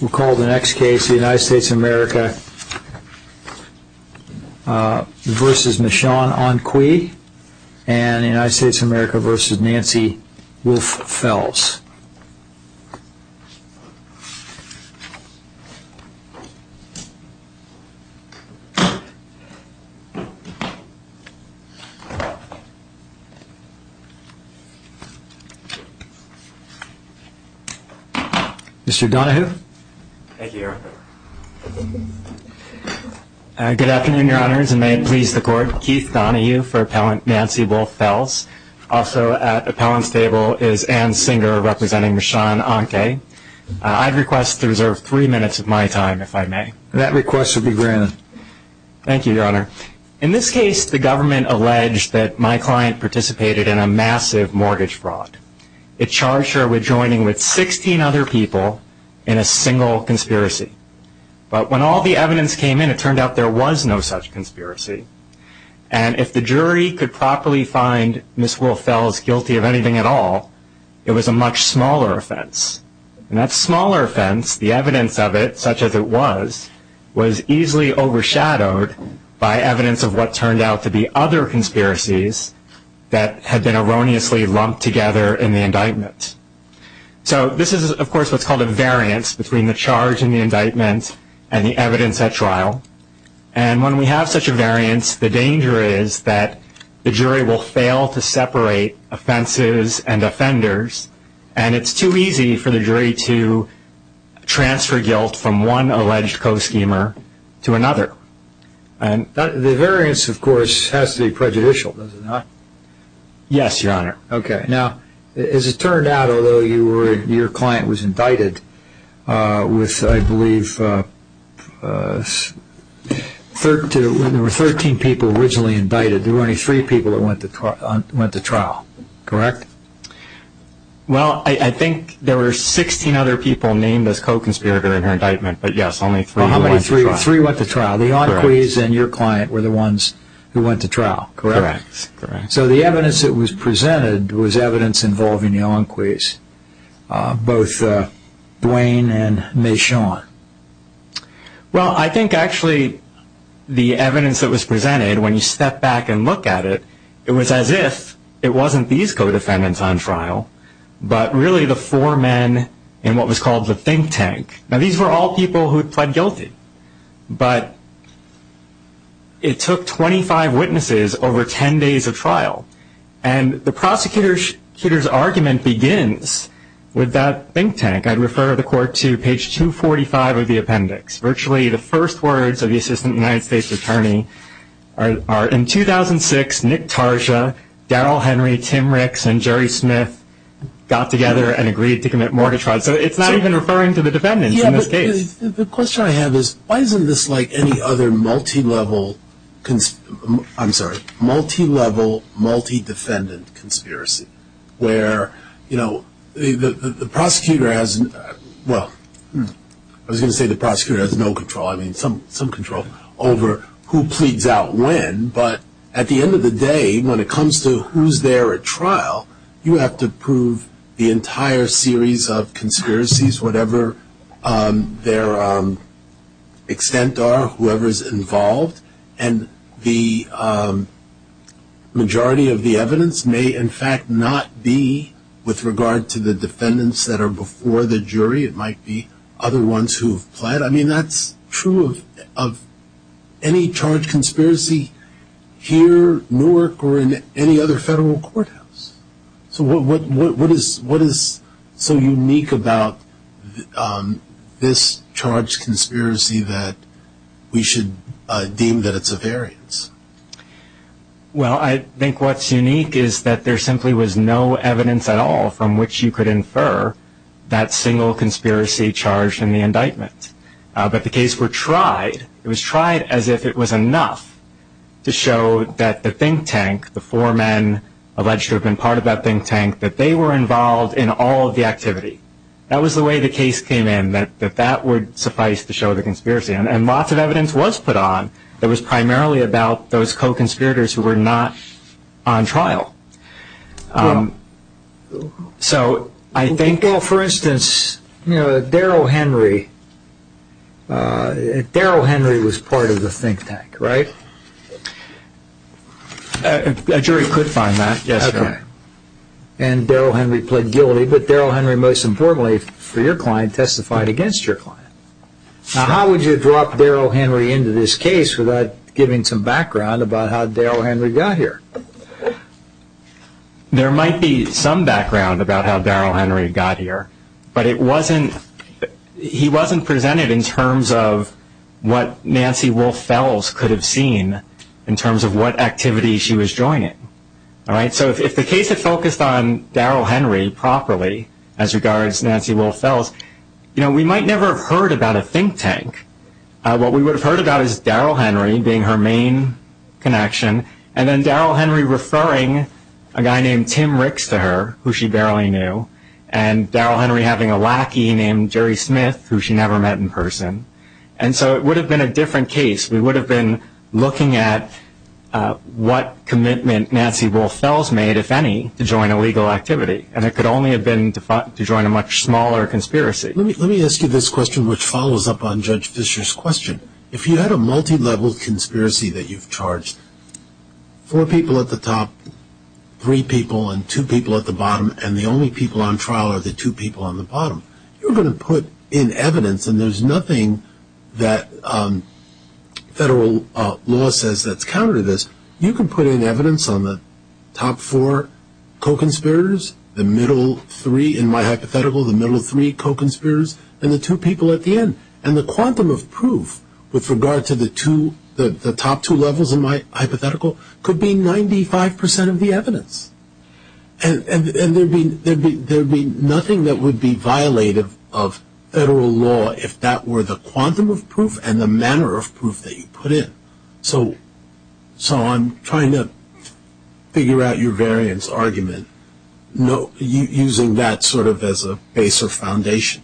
We'll call the next case the United States of America v. Michonne Onque and the United States of America v. Nancy Wolf-Fells. Mr. Donahue. Thank you, Your Honor. Good afternoon, Your Honors, and may it please the Court. Keith Donahue for Appellant Nancy Wolf-Fells. Also at Appellant's table is Anne Singer representing Michonne Onque. I'd request to reserve three minutes of my time, if I may. That request will be granted. Thank you, Your Honor. In this case, the government alleged that my client participated in a massive mortgage fraud. It charged her with joining with 16 other people in a single conspiracy. But when all the evidence came in, it turned out there was no such conspiracy. And if the jury could properly find Ms. Wolf-Fells guilty of anything at all, it was a much smaller offense. And that smaller offense, the evidence of it, such as it was, was easily overshadowed by evidence of what turned out to be other conspiracies that had been erroneously lumped together in the indictment. So this is, of course, what's called a variance between the charge in the indictment and the evidence at trial. And when we have such a variance, the danger is that the jury will fail to separate offenses and offenders. And it's too easy for the jury to transfer guilt from one alleged co-schemer to another. The variance, of course, has to be prejudicial, does it not? Yes, Your Honor. Okay. Now, as it turned out, although your client was indicted with, I believe, there were 13 people originally indicted, there were only three people that went to trial, correct? Well, I think there were 16 other people named as co-conspirators in her indictment, but yes, only three went to trial. Only three went to trial. The Enquies and your client were the ones who went to trial, correct? Correct. So the evidence that was presented was evidence involving the Enquies, both Dwayne and Mae Sean. Well, I think actually the evidence that was presented, when you step back and look at it, it was as if it wasn't these co-defendants on trial, but really the four men in what was called the think tank. Now, these were all people who had pled guilty, but it took 25 witnesses over 10 days of trial, and the prosecutor's argument begins with that think tank. I'd refer the court to page 245 of the appendix. Virtually the first words of the assistant United States attorney are, in 2006, Nick Tarsha, Daryl Henry, Tim Ricks, and Jerry Smith got together and agreed to commit mortgage fraud. So it's not even referring to the defendants in this case. The question I have is, why isn't this like any other multi-level, I'm sorry, multi-level, multi-defendant conspiracy, where, you know, the prosecutor has, well, I was going to say the prosecutor has no control, I mean some control over who pleads out when, but at the end of the day, when it comes to who's there at trial, you have to prove the entire series of conspiracies, whatever their extent are, whoever's involved, and the majority of the evidence may, in fact, not be with regard to the defendants that are before the jury. It might be other ones who have pled. I mean, that's true of any charged conspiracy here, Newark, or in any other federal courthouse. So what is so unique about this charged conspiracy that we should deem that it's a variance? Well, I think what's unique is that there simply was no evidence at all from which you could infer that single conspiracy charged in the indictment. But the cases were tried. It was tried as if it was enough to show that the think tank, the four men alleged to have been part of that think tank, that they were involved in all of the activity. That was the way the case came in, that that would suffice to show the conspiracy, and lots of evidence was put on that was primarily about those co-conspirators who were not on trial. So I think... Well, for instance, Darryl Henry, Darryl Henry was part of the think tank, right? A jury could find that, yes. Okay. And Darryl Henry pled guilty, but Darryl Henry, most importantly for your client, testified against your client. Now how would you drop Darryl Henry into this case without giving some background about how Darryl Henry got here? There might be some background about how Darryl Henry got here, but he wasn't presented in terms of what Nancy Wolfe Fells could have seen in terms of what activity she was joining. So if the case had focused on Darryl Henry properly as regards Nancy Wolfe Fells, we might never have heard about a think tank. What we would have heard about is Darryl Henry being her main connection, and then Darryl Henry referring a guy named Tim Ricks to her, who she barely knew, and Darryl Henry having a lackey named Jerry Smith, who she never met in person. And so it would have been a different case. We would have been looking at what commitment Nancy Wolfe Fells made, if any, to join a legal activity, and it could only have been to join a much smaller conspiracy. Let me ask you this question, which follows up on Judge Fischer's question. If you had a multilevel conspiracy that you've charged four people at the top, three people, and two people at the bottom, and the only people on trial are the two people on the bottom, you're going to put in evidence, and there's nothing that federal law says that's counter to this. You can put in evidence on the top four co-conspirators, the middle three in my hypothetical, the middle three co-conspirators, and the two people at the end. And the quantum of proof with regard to the top two levels in my hypothetical could be 95% of the evidence. And there would be nothing that would be violative of federal law if that were the quantum of proof and the manner of proof that you put in. So I'm trying to figure out your variance argument using that sort of as a base or foundation.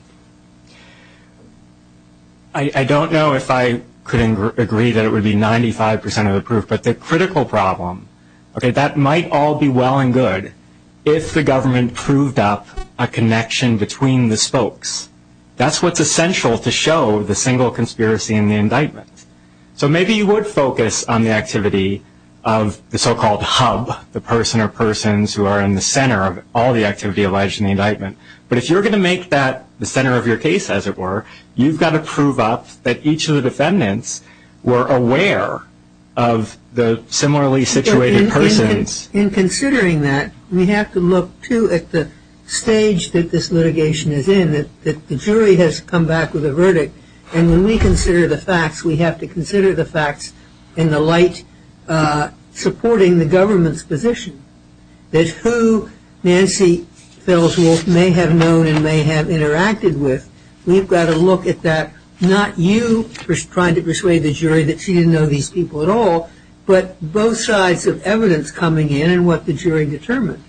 I don't know if I could agree that it would be 95% of the proof, but the critical problem, that might all be well and good if the government proved up a connection between the spokes. That's what's essential to show the single conspiracy in the indictment. So maybe you would focus on the activity of the so-called hub, the person or persons who are in the center of all the activity alleged in the indictment. But if you're going to make that the center of your case, as it were, you've got to prove up that each of the defendants were aware of the similarly situated persons. In considering that, we have to look, too, at the stage that this litigation is in, that the jury has come back with a verdict. And when we consider the facts, we have to consider the facts in the light supporting the government's position, that who Nancy Felswold may have known and may have interacted with, we've got to look at that, not you trying to persuade the jury that she didn't know these people at all, but both sides of evidence coming in and what the jury determined.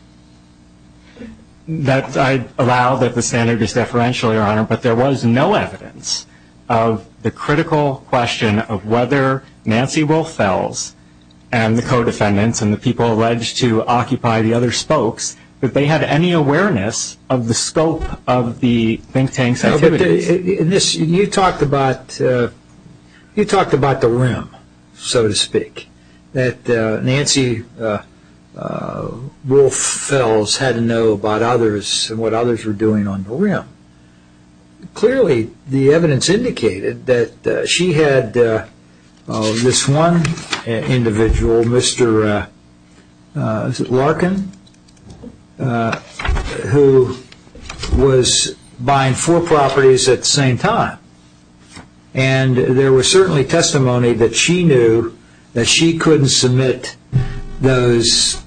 I allow that the standard is deferential, Your Honor, but there was no evidence of the critical question of whether Nancy Wolf Fels and the co-defendants and the people alleged to occupy the other spokes, that they had any awareness of the scope of the think tank's activities. You talked about the rim, so to speak, that Nancy Wolf Fels had to know about others and what others were doing on the rim. Clearly, the evidence indicated that she had this one individual, Mr. Larkin, who was buying four properties at the same time. And there was certainly testimony that she knew that she couldn't submit those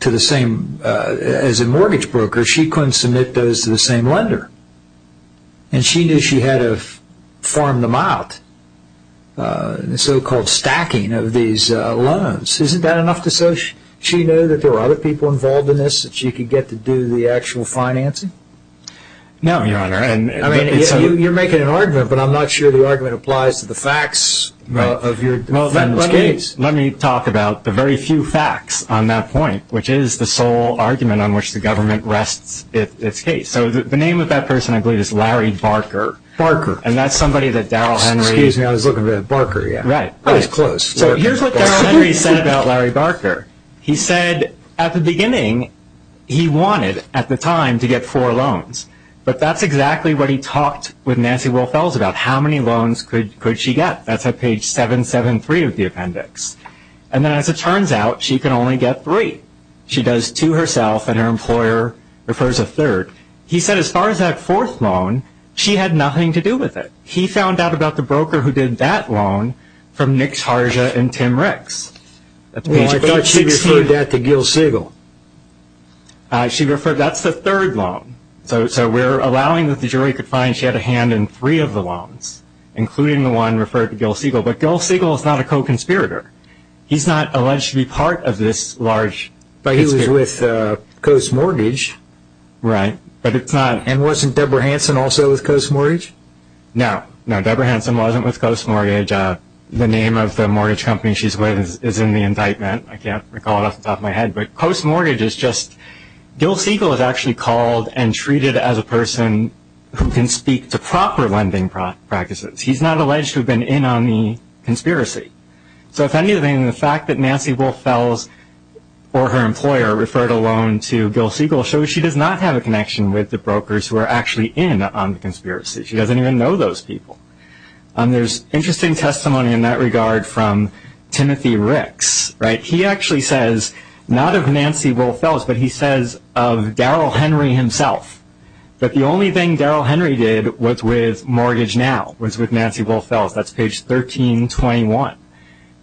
to the same, as a mortgage broker, she couldn't submit those to the same lender. And she knew she had to farm them out, the so-called stacking of these loans. Isn't that enough to show she knew that there were other people involved in this, that she could get to do the actual financing? No, Your Honor. You're making an argument, but I'm not sure the argument applies to the facts of your defendant's case. Let me talk about the very few facts on that point, which is the sole argument on which the government rests its case. So the name of that person, I believe, is Larry Barker. Barker. And that's somebody that Daryl Henry... Excuse me, I was looking for Barker. Right. I was close. So here's what Daryl Henry said about Larry Barker. He said, at the beginning, he wanted, at the time, to get four loans. But that's exactly what he talked with Nancy Wilfels about, how many loans could she get. That's at page 773 of the appendix. And as it turns out, she can only get three. She does two herself, and her employer prefers a third. He said, as far as that fourth loan, she had nothing to do with it. He found out about the broker who did that loan from Nick Tarja and Tim Ricks. I thought she referred that to Gil Siegel. That's the third loan. So we're allowing that the jury could find she had a hand in three of the loans, including the one referred to Gil Siegel. But Gil Siegel is not a co-conspirator. He's not alleged to be part of this large case. But he was with Coase Mortgage. Right. And wasn't Debra Hansen also with Coase Mortgage? No. No, Debra Hansen wasn't with Coase Mortgage. The name of the mortgage company she's with is in the indictment. I can't recall it off the top of my head. But Coase Mortgage is just – Gil Siegel is actually called and treated as a person who can speak to proper lending practices. He's not alleged to have been in on the conspiracy. So if anything, the fact that Nancy Wilfels or her employer referred a loan to Gil Siegel shows she does not have a connection with the brokers who are actually in on the conspiracy. She doesn't even know those people. There's interesting testimony in that regard from Timothy Ricks. He actually says, not of Nancy Wilfels, but he says of Daryl Henry himself, that the only thing Daryl Henry did was with Mortgage Now, was with Nancy Wilfels. That's page 1321.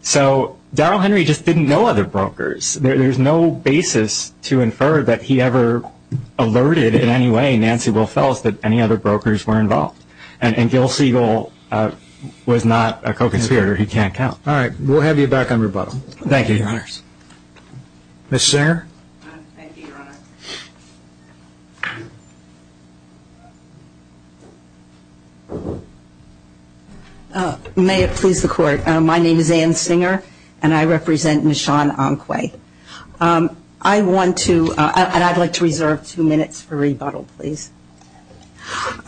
So Daryl Henry just didn't know other brokers. There's no basis to infer that he ever alerted in any way Nancy Wilfels that any other brokers were involved. And Gil Siegel was not a co-conspirator. He can't count. All right. We'll have you back on rebuttal. Thank you, Your Honors. Ms. Singer? Thank you, Your Honor. May it please the Court. My name is Ann Singer, and I represent Nishan Anquay. I want to, and I'd like to reserve two minutes for rebuttal, please.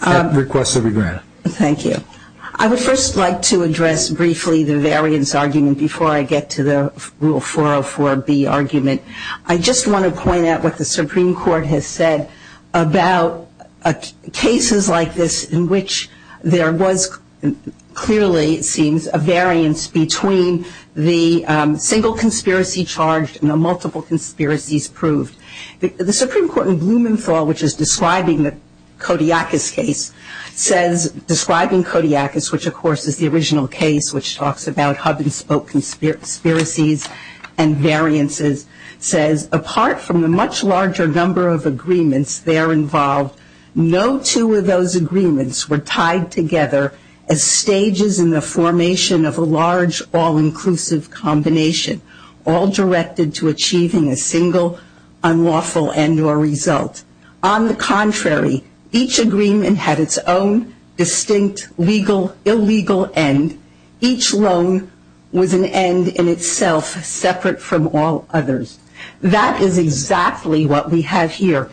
Request to be granted. Thank you. I would first like to address briefly the variance argument before I get to the Rule 404B argument. I just want to point out what the Supreme Court has said about cases like this in which there was clearly, it seems, a variance between the single conspiracy charged and the multiple conspiracies proved. The Supreme Court in Blumenthal, which is describing the Kodiakus case, says, describing Kodiakus, which, of course, is the original case, which talks about hub-and-spoke conspiracies and variances, says, apart from the much larger number of agreements there involved, no two of those agreements were tied together as stages in the formation of a large, all-inclusive combination, all directed to achieving a single, unlawful end or result. On the contrary, each agreement had its own distinct, legal, illegal end. Each loan was an end in itself, separate from all others. That is exactly what we have here.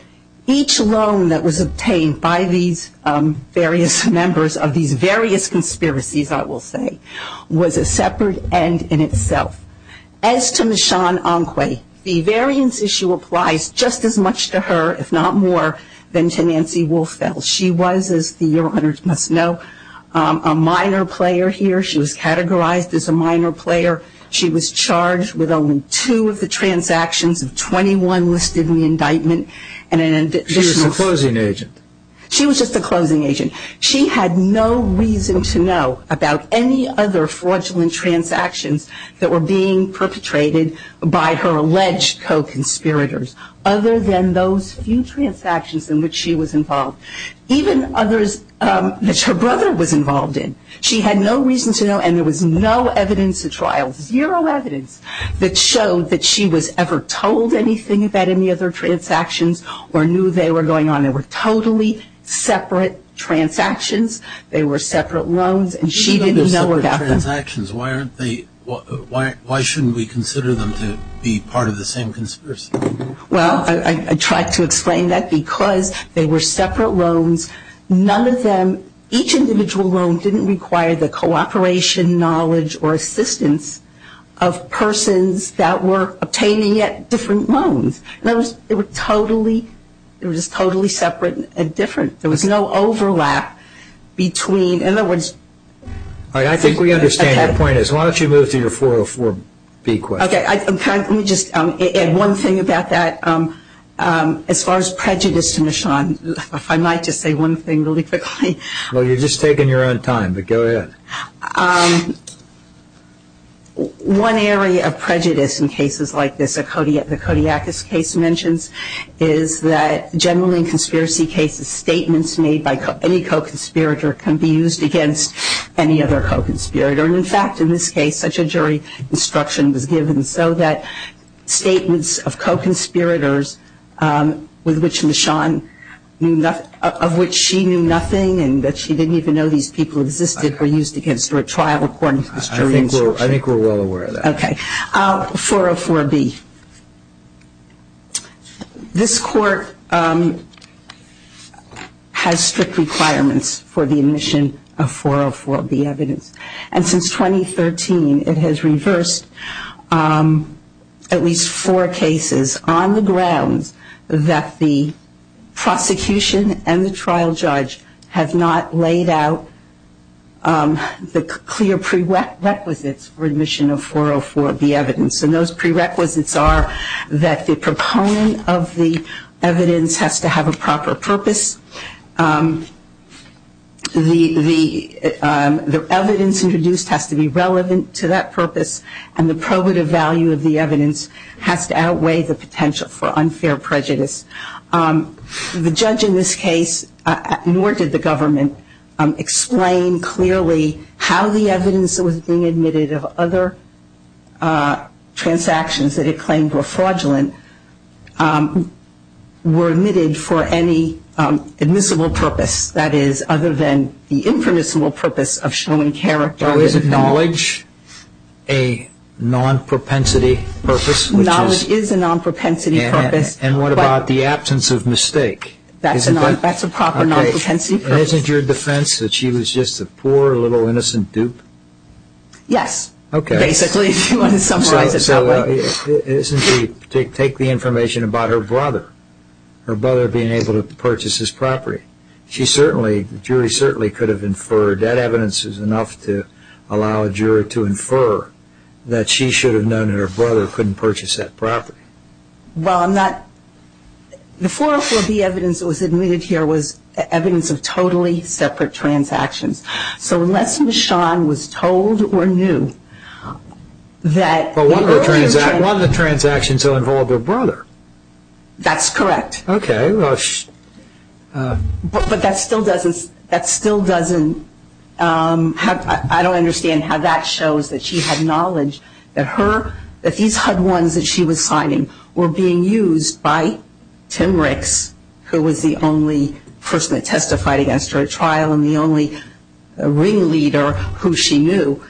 Each loan that was obtained by these various members of these various conspiracies, I will say, was a separate end in itself. As to Michonne Anquet, the variance issue applies just as much to her, if not more, than to Nancy Wolffeld. She was, as the Your Honors must know, a minor player here. She was categorized as a minor player. She was charged with only two of the transactions of 21 listed in the indictment. She was a closing agent. She was just a closing agent. She had no reason to know about any other fraudulent transactions that were being perpetrated by her alleged co-conspirators, other than those few transactions in which she was involved, even others that her brother was involved in. She had no reason to know, and there was no evidence to trial, zero evidence that showed that she was ever told anything about any other transactions or knew they were going on. They were totally separate transactions. They were separate loans, and she didn't know about them. Why shouldn't we consider them to be part of the same conspiracy? Well, I tried to explain that because they were separate loans. None of them, each individual loan didn't require the cooperation, knowledge, or assistance of persons that were obtaining different loans. They were totally separate and different. There was no overlap between, in other words. All right. I think we understand your point. Why don't you move to your 404B question? Okay. Let me just add one thing about that. As far as prejudice to Michonne, if I might just say one thing really quickly. Well, you're just taking your own time, but go ahead. One area of prejudice in cases like this, the Kodiakis case mentions, is that generally in conspiracy cases, statements made by any co-conspirator can be used against any other co-conspirator. And, in fact, in this case, such a jury instruction was given so that statements of co-conspirators of which she knew nothing and that she didn't even know these people existed were used against her at trial according to this jury instruction. I think we're well aware of that. Okay. 404B. This Court has strict requirements for the admission of 404B evidence. And since 2013, it has reversed at least four cases on the grounds that the prosecution and the trial judge have not laid out the clear prerequisites for admission of 404B evidence. And those prerequisites are that the proponent of the evidence has to have a proper purpose, the evidence introduced has to be relevant to that purpose, and the probative value of the evidence has to outweigh the potential for unfair prejudice. The judge in this case, nor did the government, explain clearly how the evidence that was being admitted of other transactions that it claimed were fraudulent were admitted for any admissible purpose. That is, other than the impermissible purpose of showing character. Is knowledge a non-propensity purpose? Knowledge is a non-propensity purpose. And what about the absence of mistake? That's a proper non-propensity purpose. And isn't your defense that she was just a poor little innocent dupe? Yes. Okay. Basically, if you want to summarize it that way. Isn't she? Take the information about her brother, her brother being able to purchase his property. She certainly, the jury certainly could have inferred that evidence is enough to allow a juror to infer that she should have known that her brother couldn't purchase that property. Well, I'm not. The 404B evidence that was admitted here was evidence of totally separate transactions. So unless Michonne was told or knew that. Well, one of the transactions involved her brother. That's correct. Okay. But that still doesn't, that still doesn't. I don't understand how that shows that she had knowledge that her, that these HUD ones that she was signing were being used by Tim Ricks, who was the only person that testified against her at trial and the only ringleader who she knew.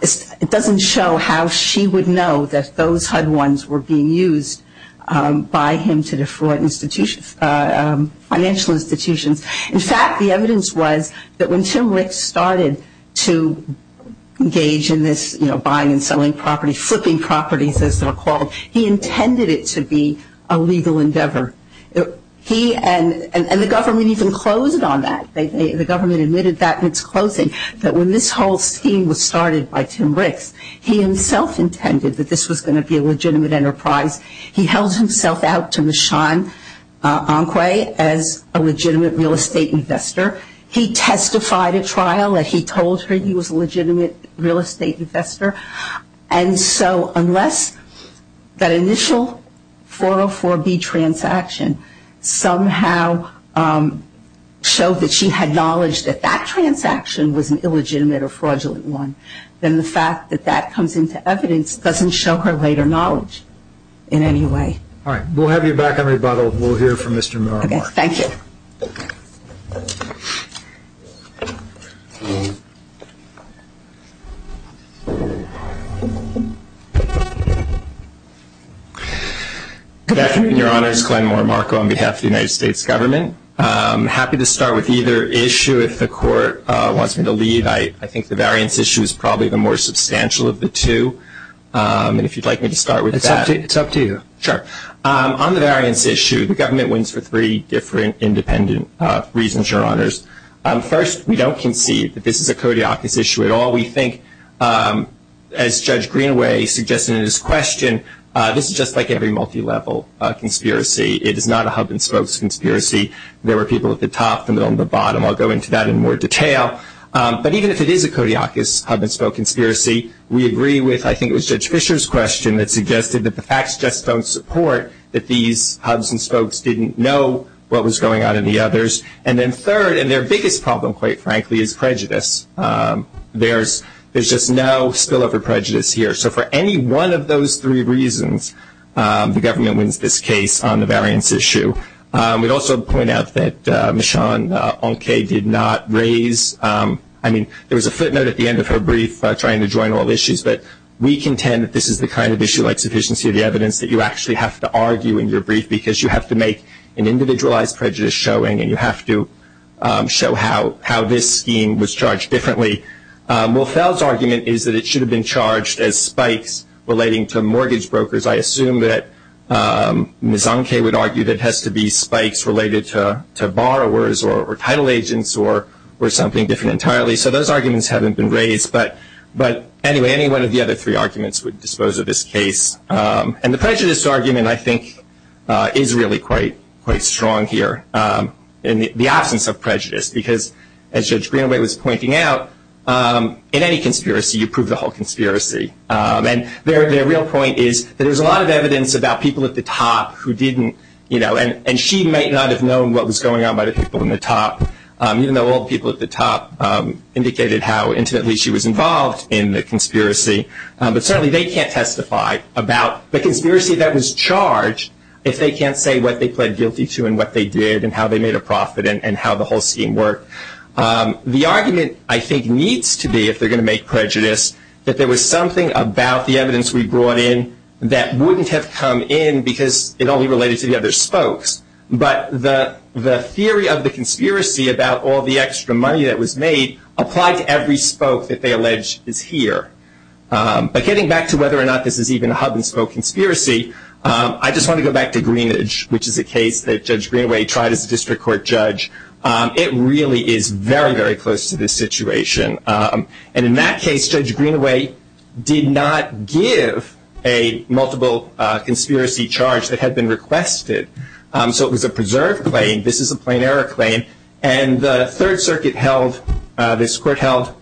It doesn't show how she would know that those HUD ones were being used by him to defraud institutions, financial institutions. In fact, the evidence was that when Tim Ricks started to engage in this, you know, buying and selling property, flipping properties as they're called, he intended it to be a legal endeavor. He and the government even closed on that. The government admitted that in its closing, that when this whole scheme was started by Tim Ricks, he himself intended that this was going to be a legitimate enterprise. He held himself out to Michonne Enquay as a legitimate real estate investor. He testified at trial that he told her he was a legitimate real estate investor. And so unless that initial 404B transaction somehow showed that she had knowledge that that transaction was an illegitimate or fraudulent one, then the fact that that comes into evidence doesn't show her later knowledge in any way. All right. We'll have you back on rebuttal. We'll hear from Mr. Morimarco. Okay. Thank you. Good afternoon, Your Honors. Glenn Morimarco on behalf of the United States government. I'm happy to start with either issue if the Court wants me to lead. I think the variance issue is probably the more substantial of the two. And if you'd like me to start with that. It's up to you. Sure. On the variance issue, the government wins for three different independent reasons, Your Honors. First, we don't concede that this is a kodiakus issue at all. We think, as Judge Greenaway suggested in his question, this is just like every multilevel conspiracy. It is not a hub and spokes conspiracy. There were people at the top, the middle, and the bottom. I'll go into that in more detail. But even if it is a kodiakus hub and spoke conspiracy, we agree with I think it was Judge Fischer's question that suggested that the facts just don't support that these hubs and spokes didn't know what was going on in the others. And then third, and their biggest problem, quite frankly, is prejudice. There's just no spillover prejudice here. So for any one of those three reasons, the government wins this case on the variance issue. We'd also point out that Ms. Sean Onkay did not raise, I mean, there was a footnote at the end of her brief trying to join all issues, but we contend that this is the kind of issue like sufficiency of the evidence that you actually have to argue in your brief because you have to make an individualized prejudice showing and you have to show how this scheme was charged differently. Will Fell's argument is that it should have been charged as spikes relating to mortgage brokers. I assume that Ms. Onkay would argue that it has to be spikes related to borrowers or title agents or something different entirely. So those arguments haven't been raised. But anyway, any one of the other three arguments would dispose of this case. And the prejudice argument I think is really quite strong here in the absence of prejudice because as Judge Greenaway was pointing out, in any conspiracy you prove the whole conspiracy. And their real point is that there's a lot of evidence about people at the top who didn't, you know, and she might not have known what was going on by the people in the top, even though all the people at the top indicated how intimately she was involved in the conspiracy. But certainly they can't testify about the conspiracy that was charged if they can't say what they pled guilty to and what they did and how they made a profit and how the whole scheme worked. The argument I think needs to be, if they're going to make prejudice, that there was something about the evidence we brought in that wouldn't have come in because it only related to the other spokes. But the theory of the conspiracy about all the extra money that was made applied to every spoke that they allege is here. But getting back to whether or not this is even a hub-and-spoke conspiracy, I just want to go back to Greenage, which is a case that Judge Greenaway tried as a district court judge. It really is very, very close to this situation. And in that case, Judge Greenaway did not give a multiple conspiracy charge that had been requested. So it was a preserved claim. This is a plain error claim. And the Third Circuit held, this court held,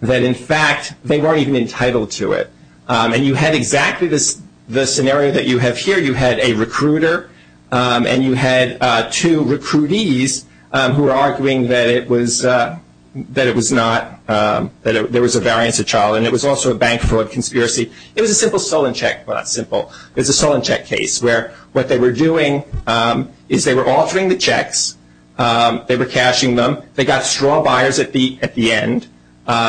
that in fact they weren't even entitled to it. And you had exactly the scenario that you have here. You had a recruiter. And you had two recruitees who were arguing that it was not, that there was a variance of trial. And it was also a bank fraud conspiracy. It was a simple stolen check, but not simple. It was a stolen check case where what they were doing is they were altering the checks. They were cashing them. They got straw buyers at the end,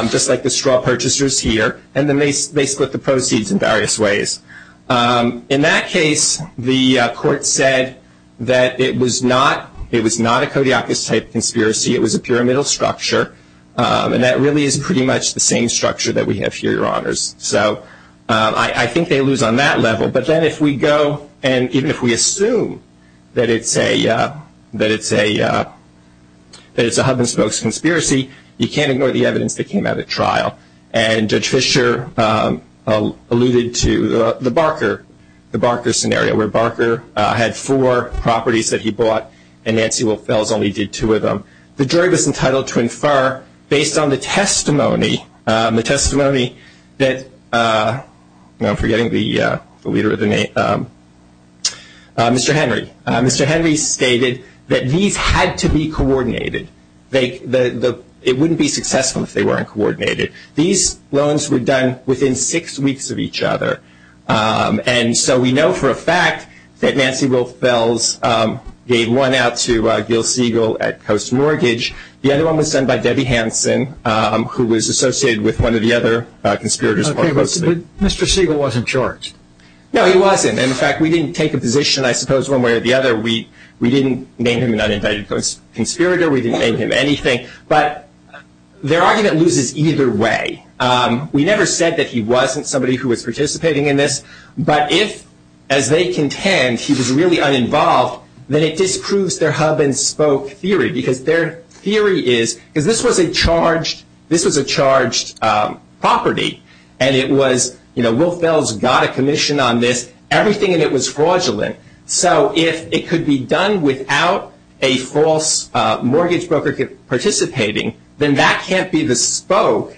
just like the straw purchasers here. And then they split the proceeds in various ways. In that case, the court said that it was not a Kodiakus-type conspiracy. It was a pyramidal structure. And that really is pretty much the same structure that we have here, Your Honors. So I think they lose on that level. But then if we go and even if we assume that it's a hub-and-spokes conspiracy, And Judge Fischer alluded to the Barker scenario, where Barker had four properties that he bought, and Nancy Wilfels only did two of them. The jury was entitled to infer, based on the testimony, the testimony that, I'm forgetting the leader of the name, Mr. Henry. Mr. Henry stated that these had to be coordinated. It wouldn't be successful if they weren't coordinated. These loans were done within six weeks of each other. And so we know for a fact that Nancy Wilfels gave one out to Gil Siegel at Coast Mortgage. The other one was done by Debbie Hanson, who was associated with one of the other conspirators. Okay, but Mr. Siegel wasn't charged. No, he wasn't. And, in fact, we didn't take a position, I suppose, one way or the other. We didn't name him an unindicted conspirator. We didn't name him anything. But their argument loses either way. We never said that he wasn't somebody who was participating in this. But if, as they contend, he was really uninvolved, then it disproves their hub-and-spoke theory, because their theory is, because this was a charged property, and it was, you know, Wilfels got a commission on this, everything in it was fraudulent. So if it could be done without a false mortgage broker participating, then that can't be the spoke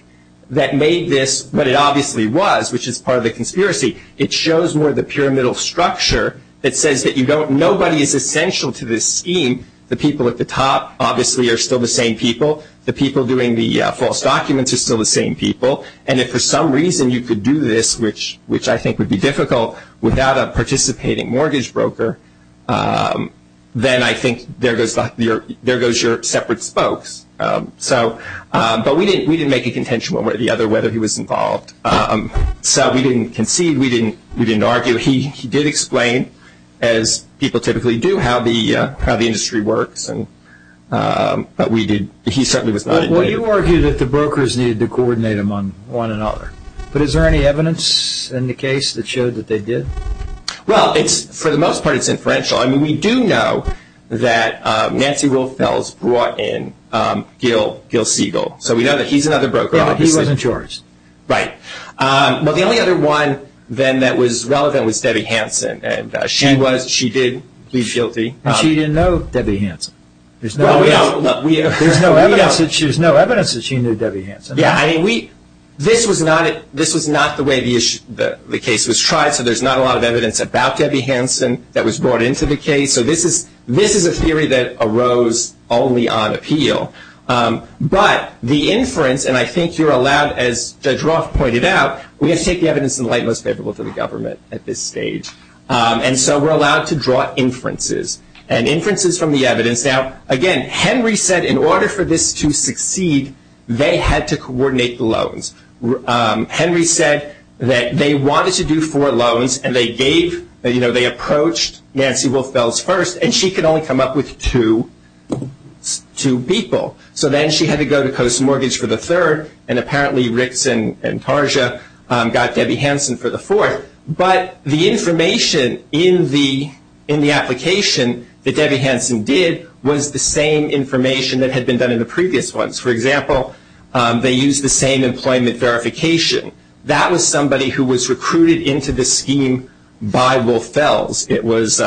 that made this what it obviously was, which is part of the conspiracy. It shows more the pyramidal structure that says that nobody is essential to this scheme. The people at the top, obviously, are still the same people. The people doing the false documents are still the same people. And if for some reason you could do this, which I think would be difficult, without a participating mortgage broker, then I think there goes your separate spokes. But we didn't make a contention one way or the other whether he was involved. So we didn't concede. We didn't argue. He did explain, as people typically do, how the industry works. But he certainly was not involved. Well, you argue that the brokers needed to coordinate among one another. But is there any evidence in the case that showed that they did? Well, for the most part, it's inferential. I mean, we do know that Nancy Wilfels brought in Gil Siegel. So we know that he's another broker, obviously. Yeah, but he wasn't charged. Right. Well, the only other one, then, that was relevant was Debbie Hanson. And she did plead guilty. And she didn't know Debbie Hanson. There's no evidence that she knew Debbie Hanson. Yeah, I mean, this was not the way the case was tried, so there's not a lot of evidence about Debbie Hanson that was brought into the case. So this is a theory that arose only on appeal. But the inference, and I think you're allowed, as Judge Roth pointed out, we have to take the evidence in the light most favorable to the government at this stage. And so we're allowed to draw inferences. And inferences from the evidence. Now, again, Henry said in order for this to succeed, they had to coordinate the loans. Henry said that they wanted to do four loans, and they gave, you know, they approached Nancy Wilfels first, and she could only come up with two people. So then she had to go to Post Mortgage for the third, and apparently Ricks and Tarja got Debbie Hanson for the fourth. But the information in the application that Debbie Hanson did was the same information that had been done in the previous ones. For example, they used the same employment verification. That was somebody who was recruited into the scheme by Wilfels. It was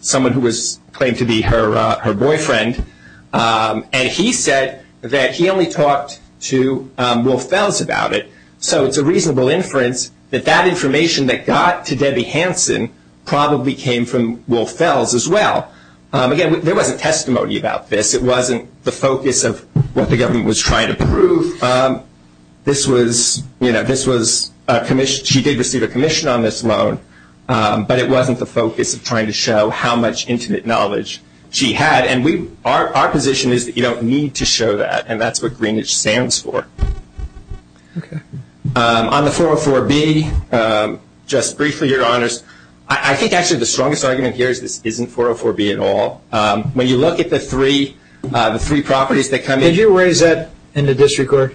someone who was claimed to be her boyfriend, and he said that he only talked to Wilfels about it. So it's a reasonable inference that that information that got to Debbie Hanson probably came from Wilfels as well. Again, there wasn't testimony about this. It wasn't the focus of what the government was trying to prove. This was, you know, this was a commission. She did receive a commission on this loan, but it wasn't the focus of trying to show how much intimate knowledge she had. And our position is that you don't need to show that, and that's what Greenwich stands for. Okay. On the 404B, just briefly, Your Honors, I think actually the strongest argument here is this isn't 404B at all. When you look at the three properties that come in. Did you raise that in the district court?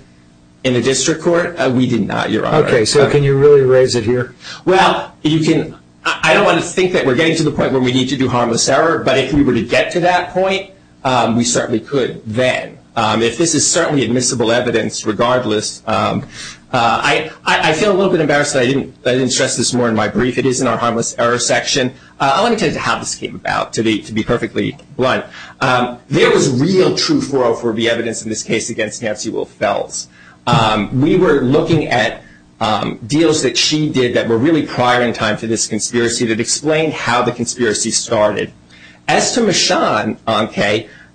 In the district court? We did not, Your Honor. Okay. So can you really raise it here? Well, you can. I don't want to think that we're getting to the point where we need to do harmless error, but if we were to get to that point, we certainly could then. If this is certainly admissible evidence regardless. I feel a little bit embarrassed that I didn't stress this more in my brief. It is in our harmless error section. Let me tell you how this came about, to be perfectly blunt. There was real true 404B evidence in this case against Nancy Wilfels. We were looking at deals that she did that were really prior in time to this conspiracy that explained how the conspiracy started. As to Michonne,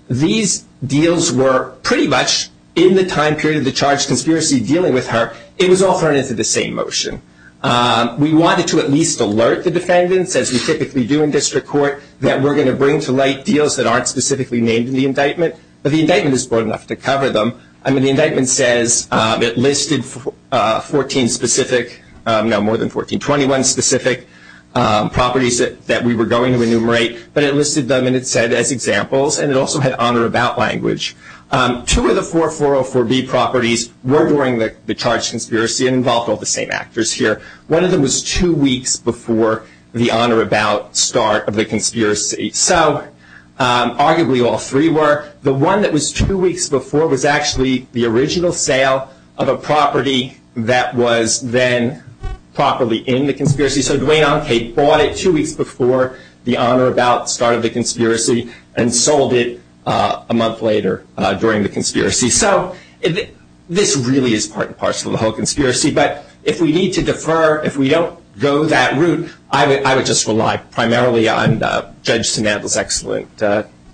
these deals were pretty much in the time period of the charged conspiracy dealing with her. It was all thrown into the same motion. We wanted to at least alert the defendants, as we typically do in district court, that we're going to bring to light deals that aren't specifically named in the indictment. But the indictment is broad enough to cover them. I mean, the indictment says it listed 14 specific, no, more than 14, 21 specific properties that we were going to enumerate. But it listed them, and it said, as examples. And it also had on or about language. Two of the four 404B properties were during the charged conspiracy and involved all the same actors here. One of them was two weeks before the on or about start of the conspiracy. So arguably all three were. The one that was two weeks before was actually the original sale of a property that was then properly in the conspiracy. So Duane Onkate bought it two weeks before the on or about start of the conspiracy and sold it a month later during the conspiracy. So this really is part and parcel of the whole conspiracy. But if we need to defer, if we don't go that route, I would just rely primarily on Judge Sanandle's excellent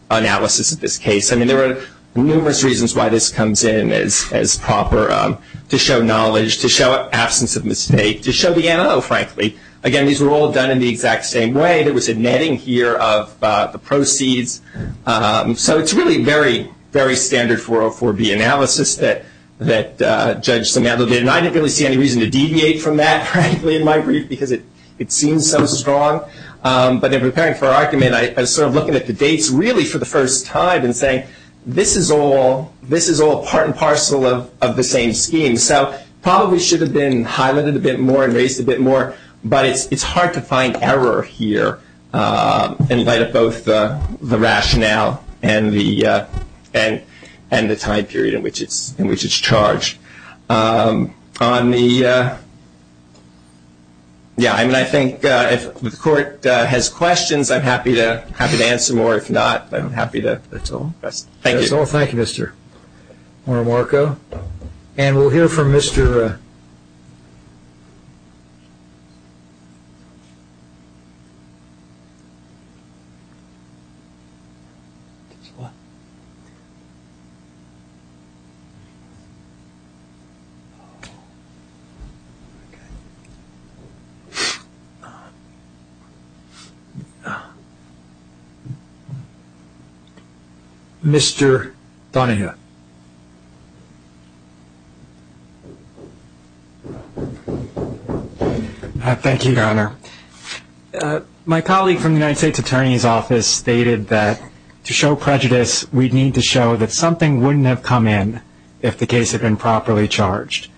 analysis of this case. I mean, there are numerous reasons why this comes in as proper. To show knowledge, to show absence of mistake, to show the M.O., frankly. Again, these were all done in the exact same way. There was a netting here of the proceeds. So it's really very, very standard 404B analysis that Judge Sanandle did. And I didn't really see any reason to deviate from that, frankly, in my brief because it seems so strong. But in preparing for our argument, I was sort of looking at the dates really for the first time and saying, this is all part and parcel of the same scheme. So probably should have been highlighted a bit more and raised a bit more. But it's hard to find error here in light of both the rationale and the time period in which it's charged. On the ‑‑ yeah, I mean, I think if the court has questions, I'm happy to answer more. If not, I'm happy to ‑‑ that's all. Thank you. Thank you, Mr. Marmarco. And we'll hear from Mr. Marmarco. Mr. Donahue. Thank you, Your Honor. My colleague from the United States Attorney's Office stated that to show prejudice, we need to show that something wouldn't have come in if the case had been properly charged.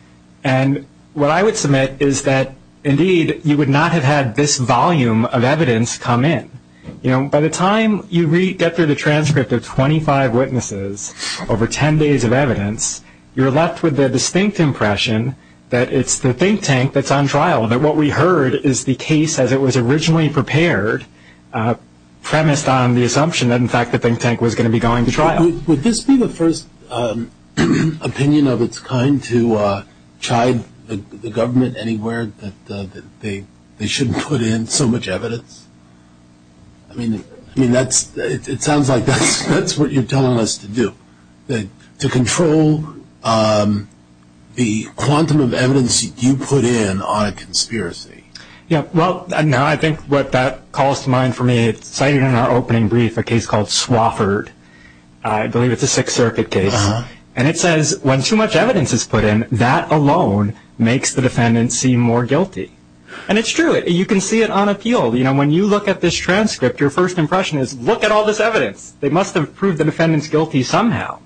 And what I would submit is that, indeed, you would not have had this volume of evidence come in. You know, by the time you get through the transcript of 25 witnesses over 10 days of evidence, you're left with the distinct impression that it's the think tank that's on trial, that what we heard is the case as it was originally prepared, premised on the assumption that, in fact, the think tank was going to be going to trial. Would this be the first opinion of its kind to chide the government anywhere, that they shouldn't put in so much evidence? I mean, it sounds like that's what you're telling us to do, to control the quantum of evidence you put in on a conspiracy. Yeah. Well, no, I think what that calls to mind for me, it's cited in our opening brief a case called Swofford. I believe it's a Sixth Circuit case. And it says, when too much evidence is put in, that alone makes the defendant seem more guilty. And it's true. You can see it on appeal. You know, when you look at this transcript, your first impression is, look at all this evidence. They must have proved the defendant's guilty somehow.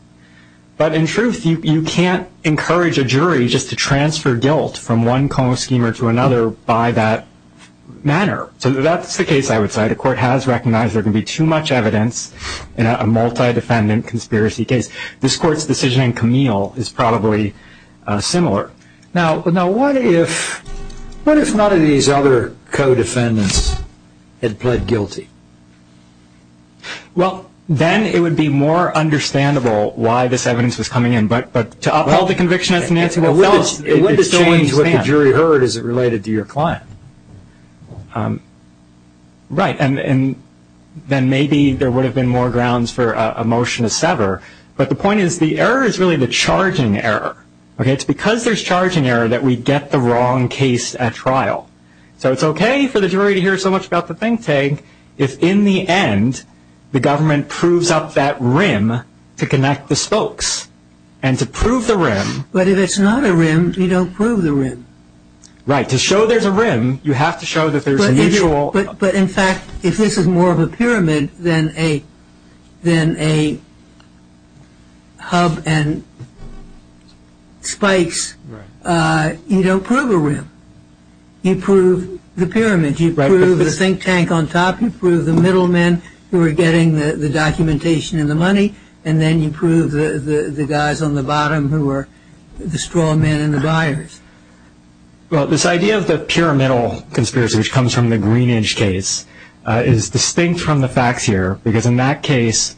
But in truth, you can't encourage a jury just to transfer guilt from one co-schemer to another by that manner. So that's the case, I would say. The court has recognized there can be too much evidence in a multi-defendant conspiracy case. This court's decision in Camille is probably similar. Now, what if none of these other co-defendants had pled guilty? Well, then it would be more understandable why this evidence was coming in. But to uphold the conviction as an answer, well, it would have changed what the jury heard. Is it related to your client? Right. And then maybe there would have been more grounds for a motion to sever. But the point is, the error is really the charging error. Okay? So it's okay for the jury to hear so much about the think tank if, in the end, the government proves up that rim to connect the spokes and to prove the rim. But if it's not a rim, you don't prove the rim. Right. To show there's a rim, you have to show that there's a visual. But in fact, if this is more of a pyramid than a hub and spikes, you don't prove a rim. You prove the pyramid. You prove the think tank on top. You prove the middlemen who are getting the documentation and the money. And then you prove the guys on the bottom who are the straw men and the buyers. Well, this idea of the pyramidal conspiracy, which comes from the Greenidge case, is distinct from the facts here because, in that case,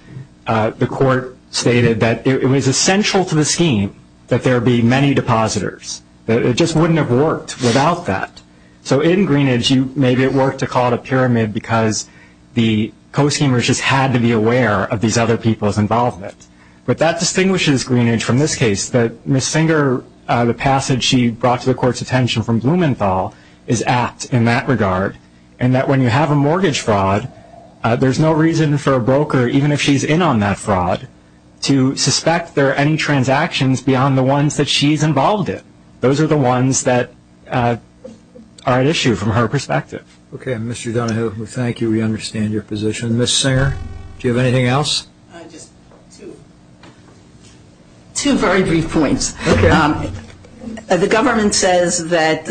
the court stated that it was essential to the scheme that there be many depositors. It just wouldn't have worked without that. So in Greenidge, maybe it worked to call it a pyramid because the co-schemers just had to be aware of these other people's involvement. But that distinguishes Greenidge from this case, that Ms. Singer, the passage she brought to the court's attention from Blumenthal, is apt in that regard, and that when you have a mortgage fraud, there's no reason for a broker, even if she's in on that fraud, to suspect there are any transactions beyond the ones that she's involved in. Those are the ones that are at issue from her perspective. Okay. Mr. Donahue, thank you. We understand your position. Ms. Singer, do you have anything else? Just two very brief points. Okay. The government says that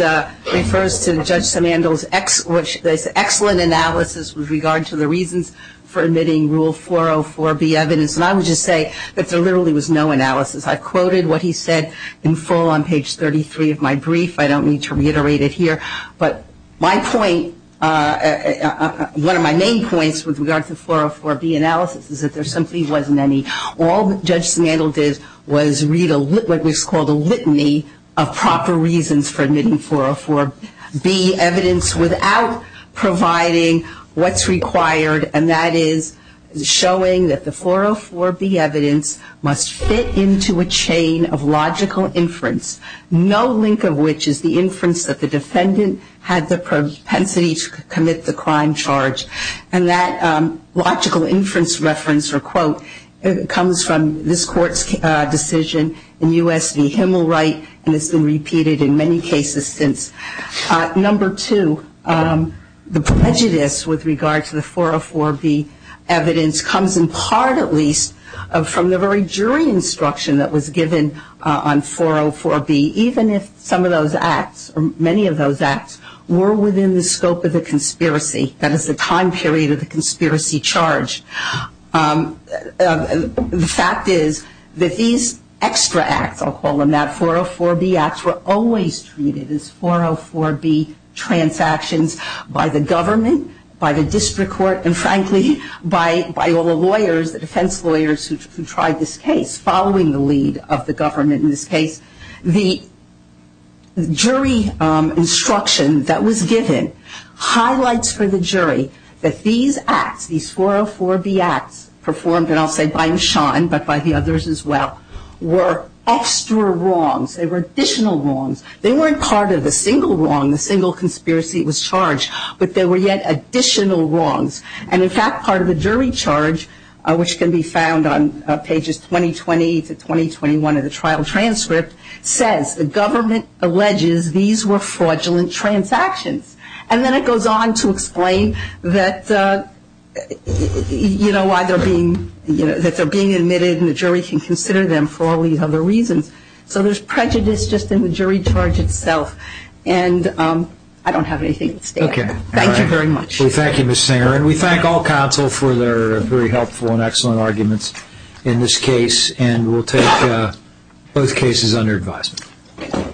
it refers to Judge Simandl's excellent analysis with regard to the reasons for admitting Rule 404B evidence. And I would just say that there literally was no analysis. I quoted what he said in full on page 33 of my brief. I don't need to reiterate it here. But my point, one of my main points with regard to 404B analysis is that there simply wasn't any. All Judge Simandl did was read what was called a litany of proper reasons for admitting 404B evidence without providing what's required, and that is showing that the 404B evidence must fit into a chain of logical inference, no link of which is the inference that the defendant had the propensity to commit the crime charge. And that logical inference reference, or quote, comes from this Court's decision in U.S. v. Himmelright, and it's been repeated in many cases since. Number two, the prejudice with regard to the 404B evidence comes in part, at least, from the very jury instruction that was given on 404B, even if some of those acts, or many of those acts were within the scope of the conspiracy, that is the time period of the conspiracy charge. The fact is that these extra acts, I'll call them that, 404B acts, were always treated as 404B transactions by the government, by the district court, and frankly, by all the lawyers, the defense lawyers who tried this case, following the lead of the government in this case. The jury instruction that was given highlights for the jury that these acts, these 404B acts performed, and I'll say by Mishon, but by the others as well, were extra wrongs. They were additional wrongs. They weren't part of the single wrong, the single conspiracy that was charged, but they were yet additional wrongs. And in fact, part of the jury charge, which can be found on pages 2020 to 2021 of the trial transcript, says the government alleges these were fraudulent transactions. And then it goes on to explain that, you know, why they're being admitted and the jury can consider them for all these other reasons. So there's prejudice just in the jury charge itself. And I don't have anything to say. Okay. Thank you very much. Well, thank you, Ms. Singer. And we thank all counsel for their very helpful and excellent arguments in this case, and we'll take both cases under advisement.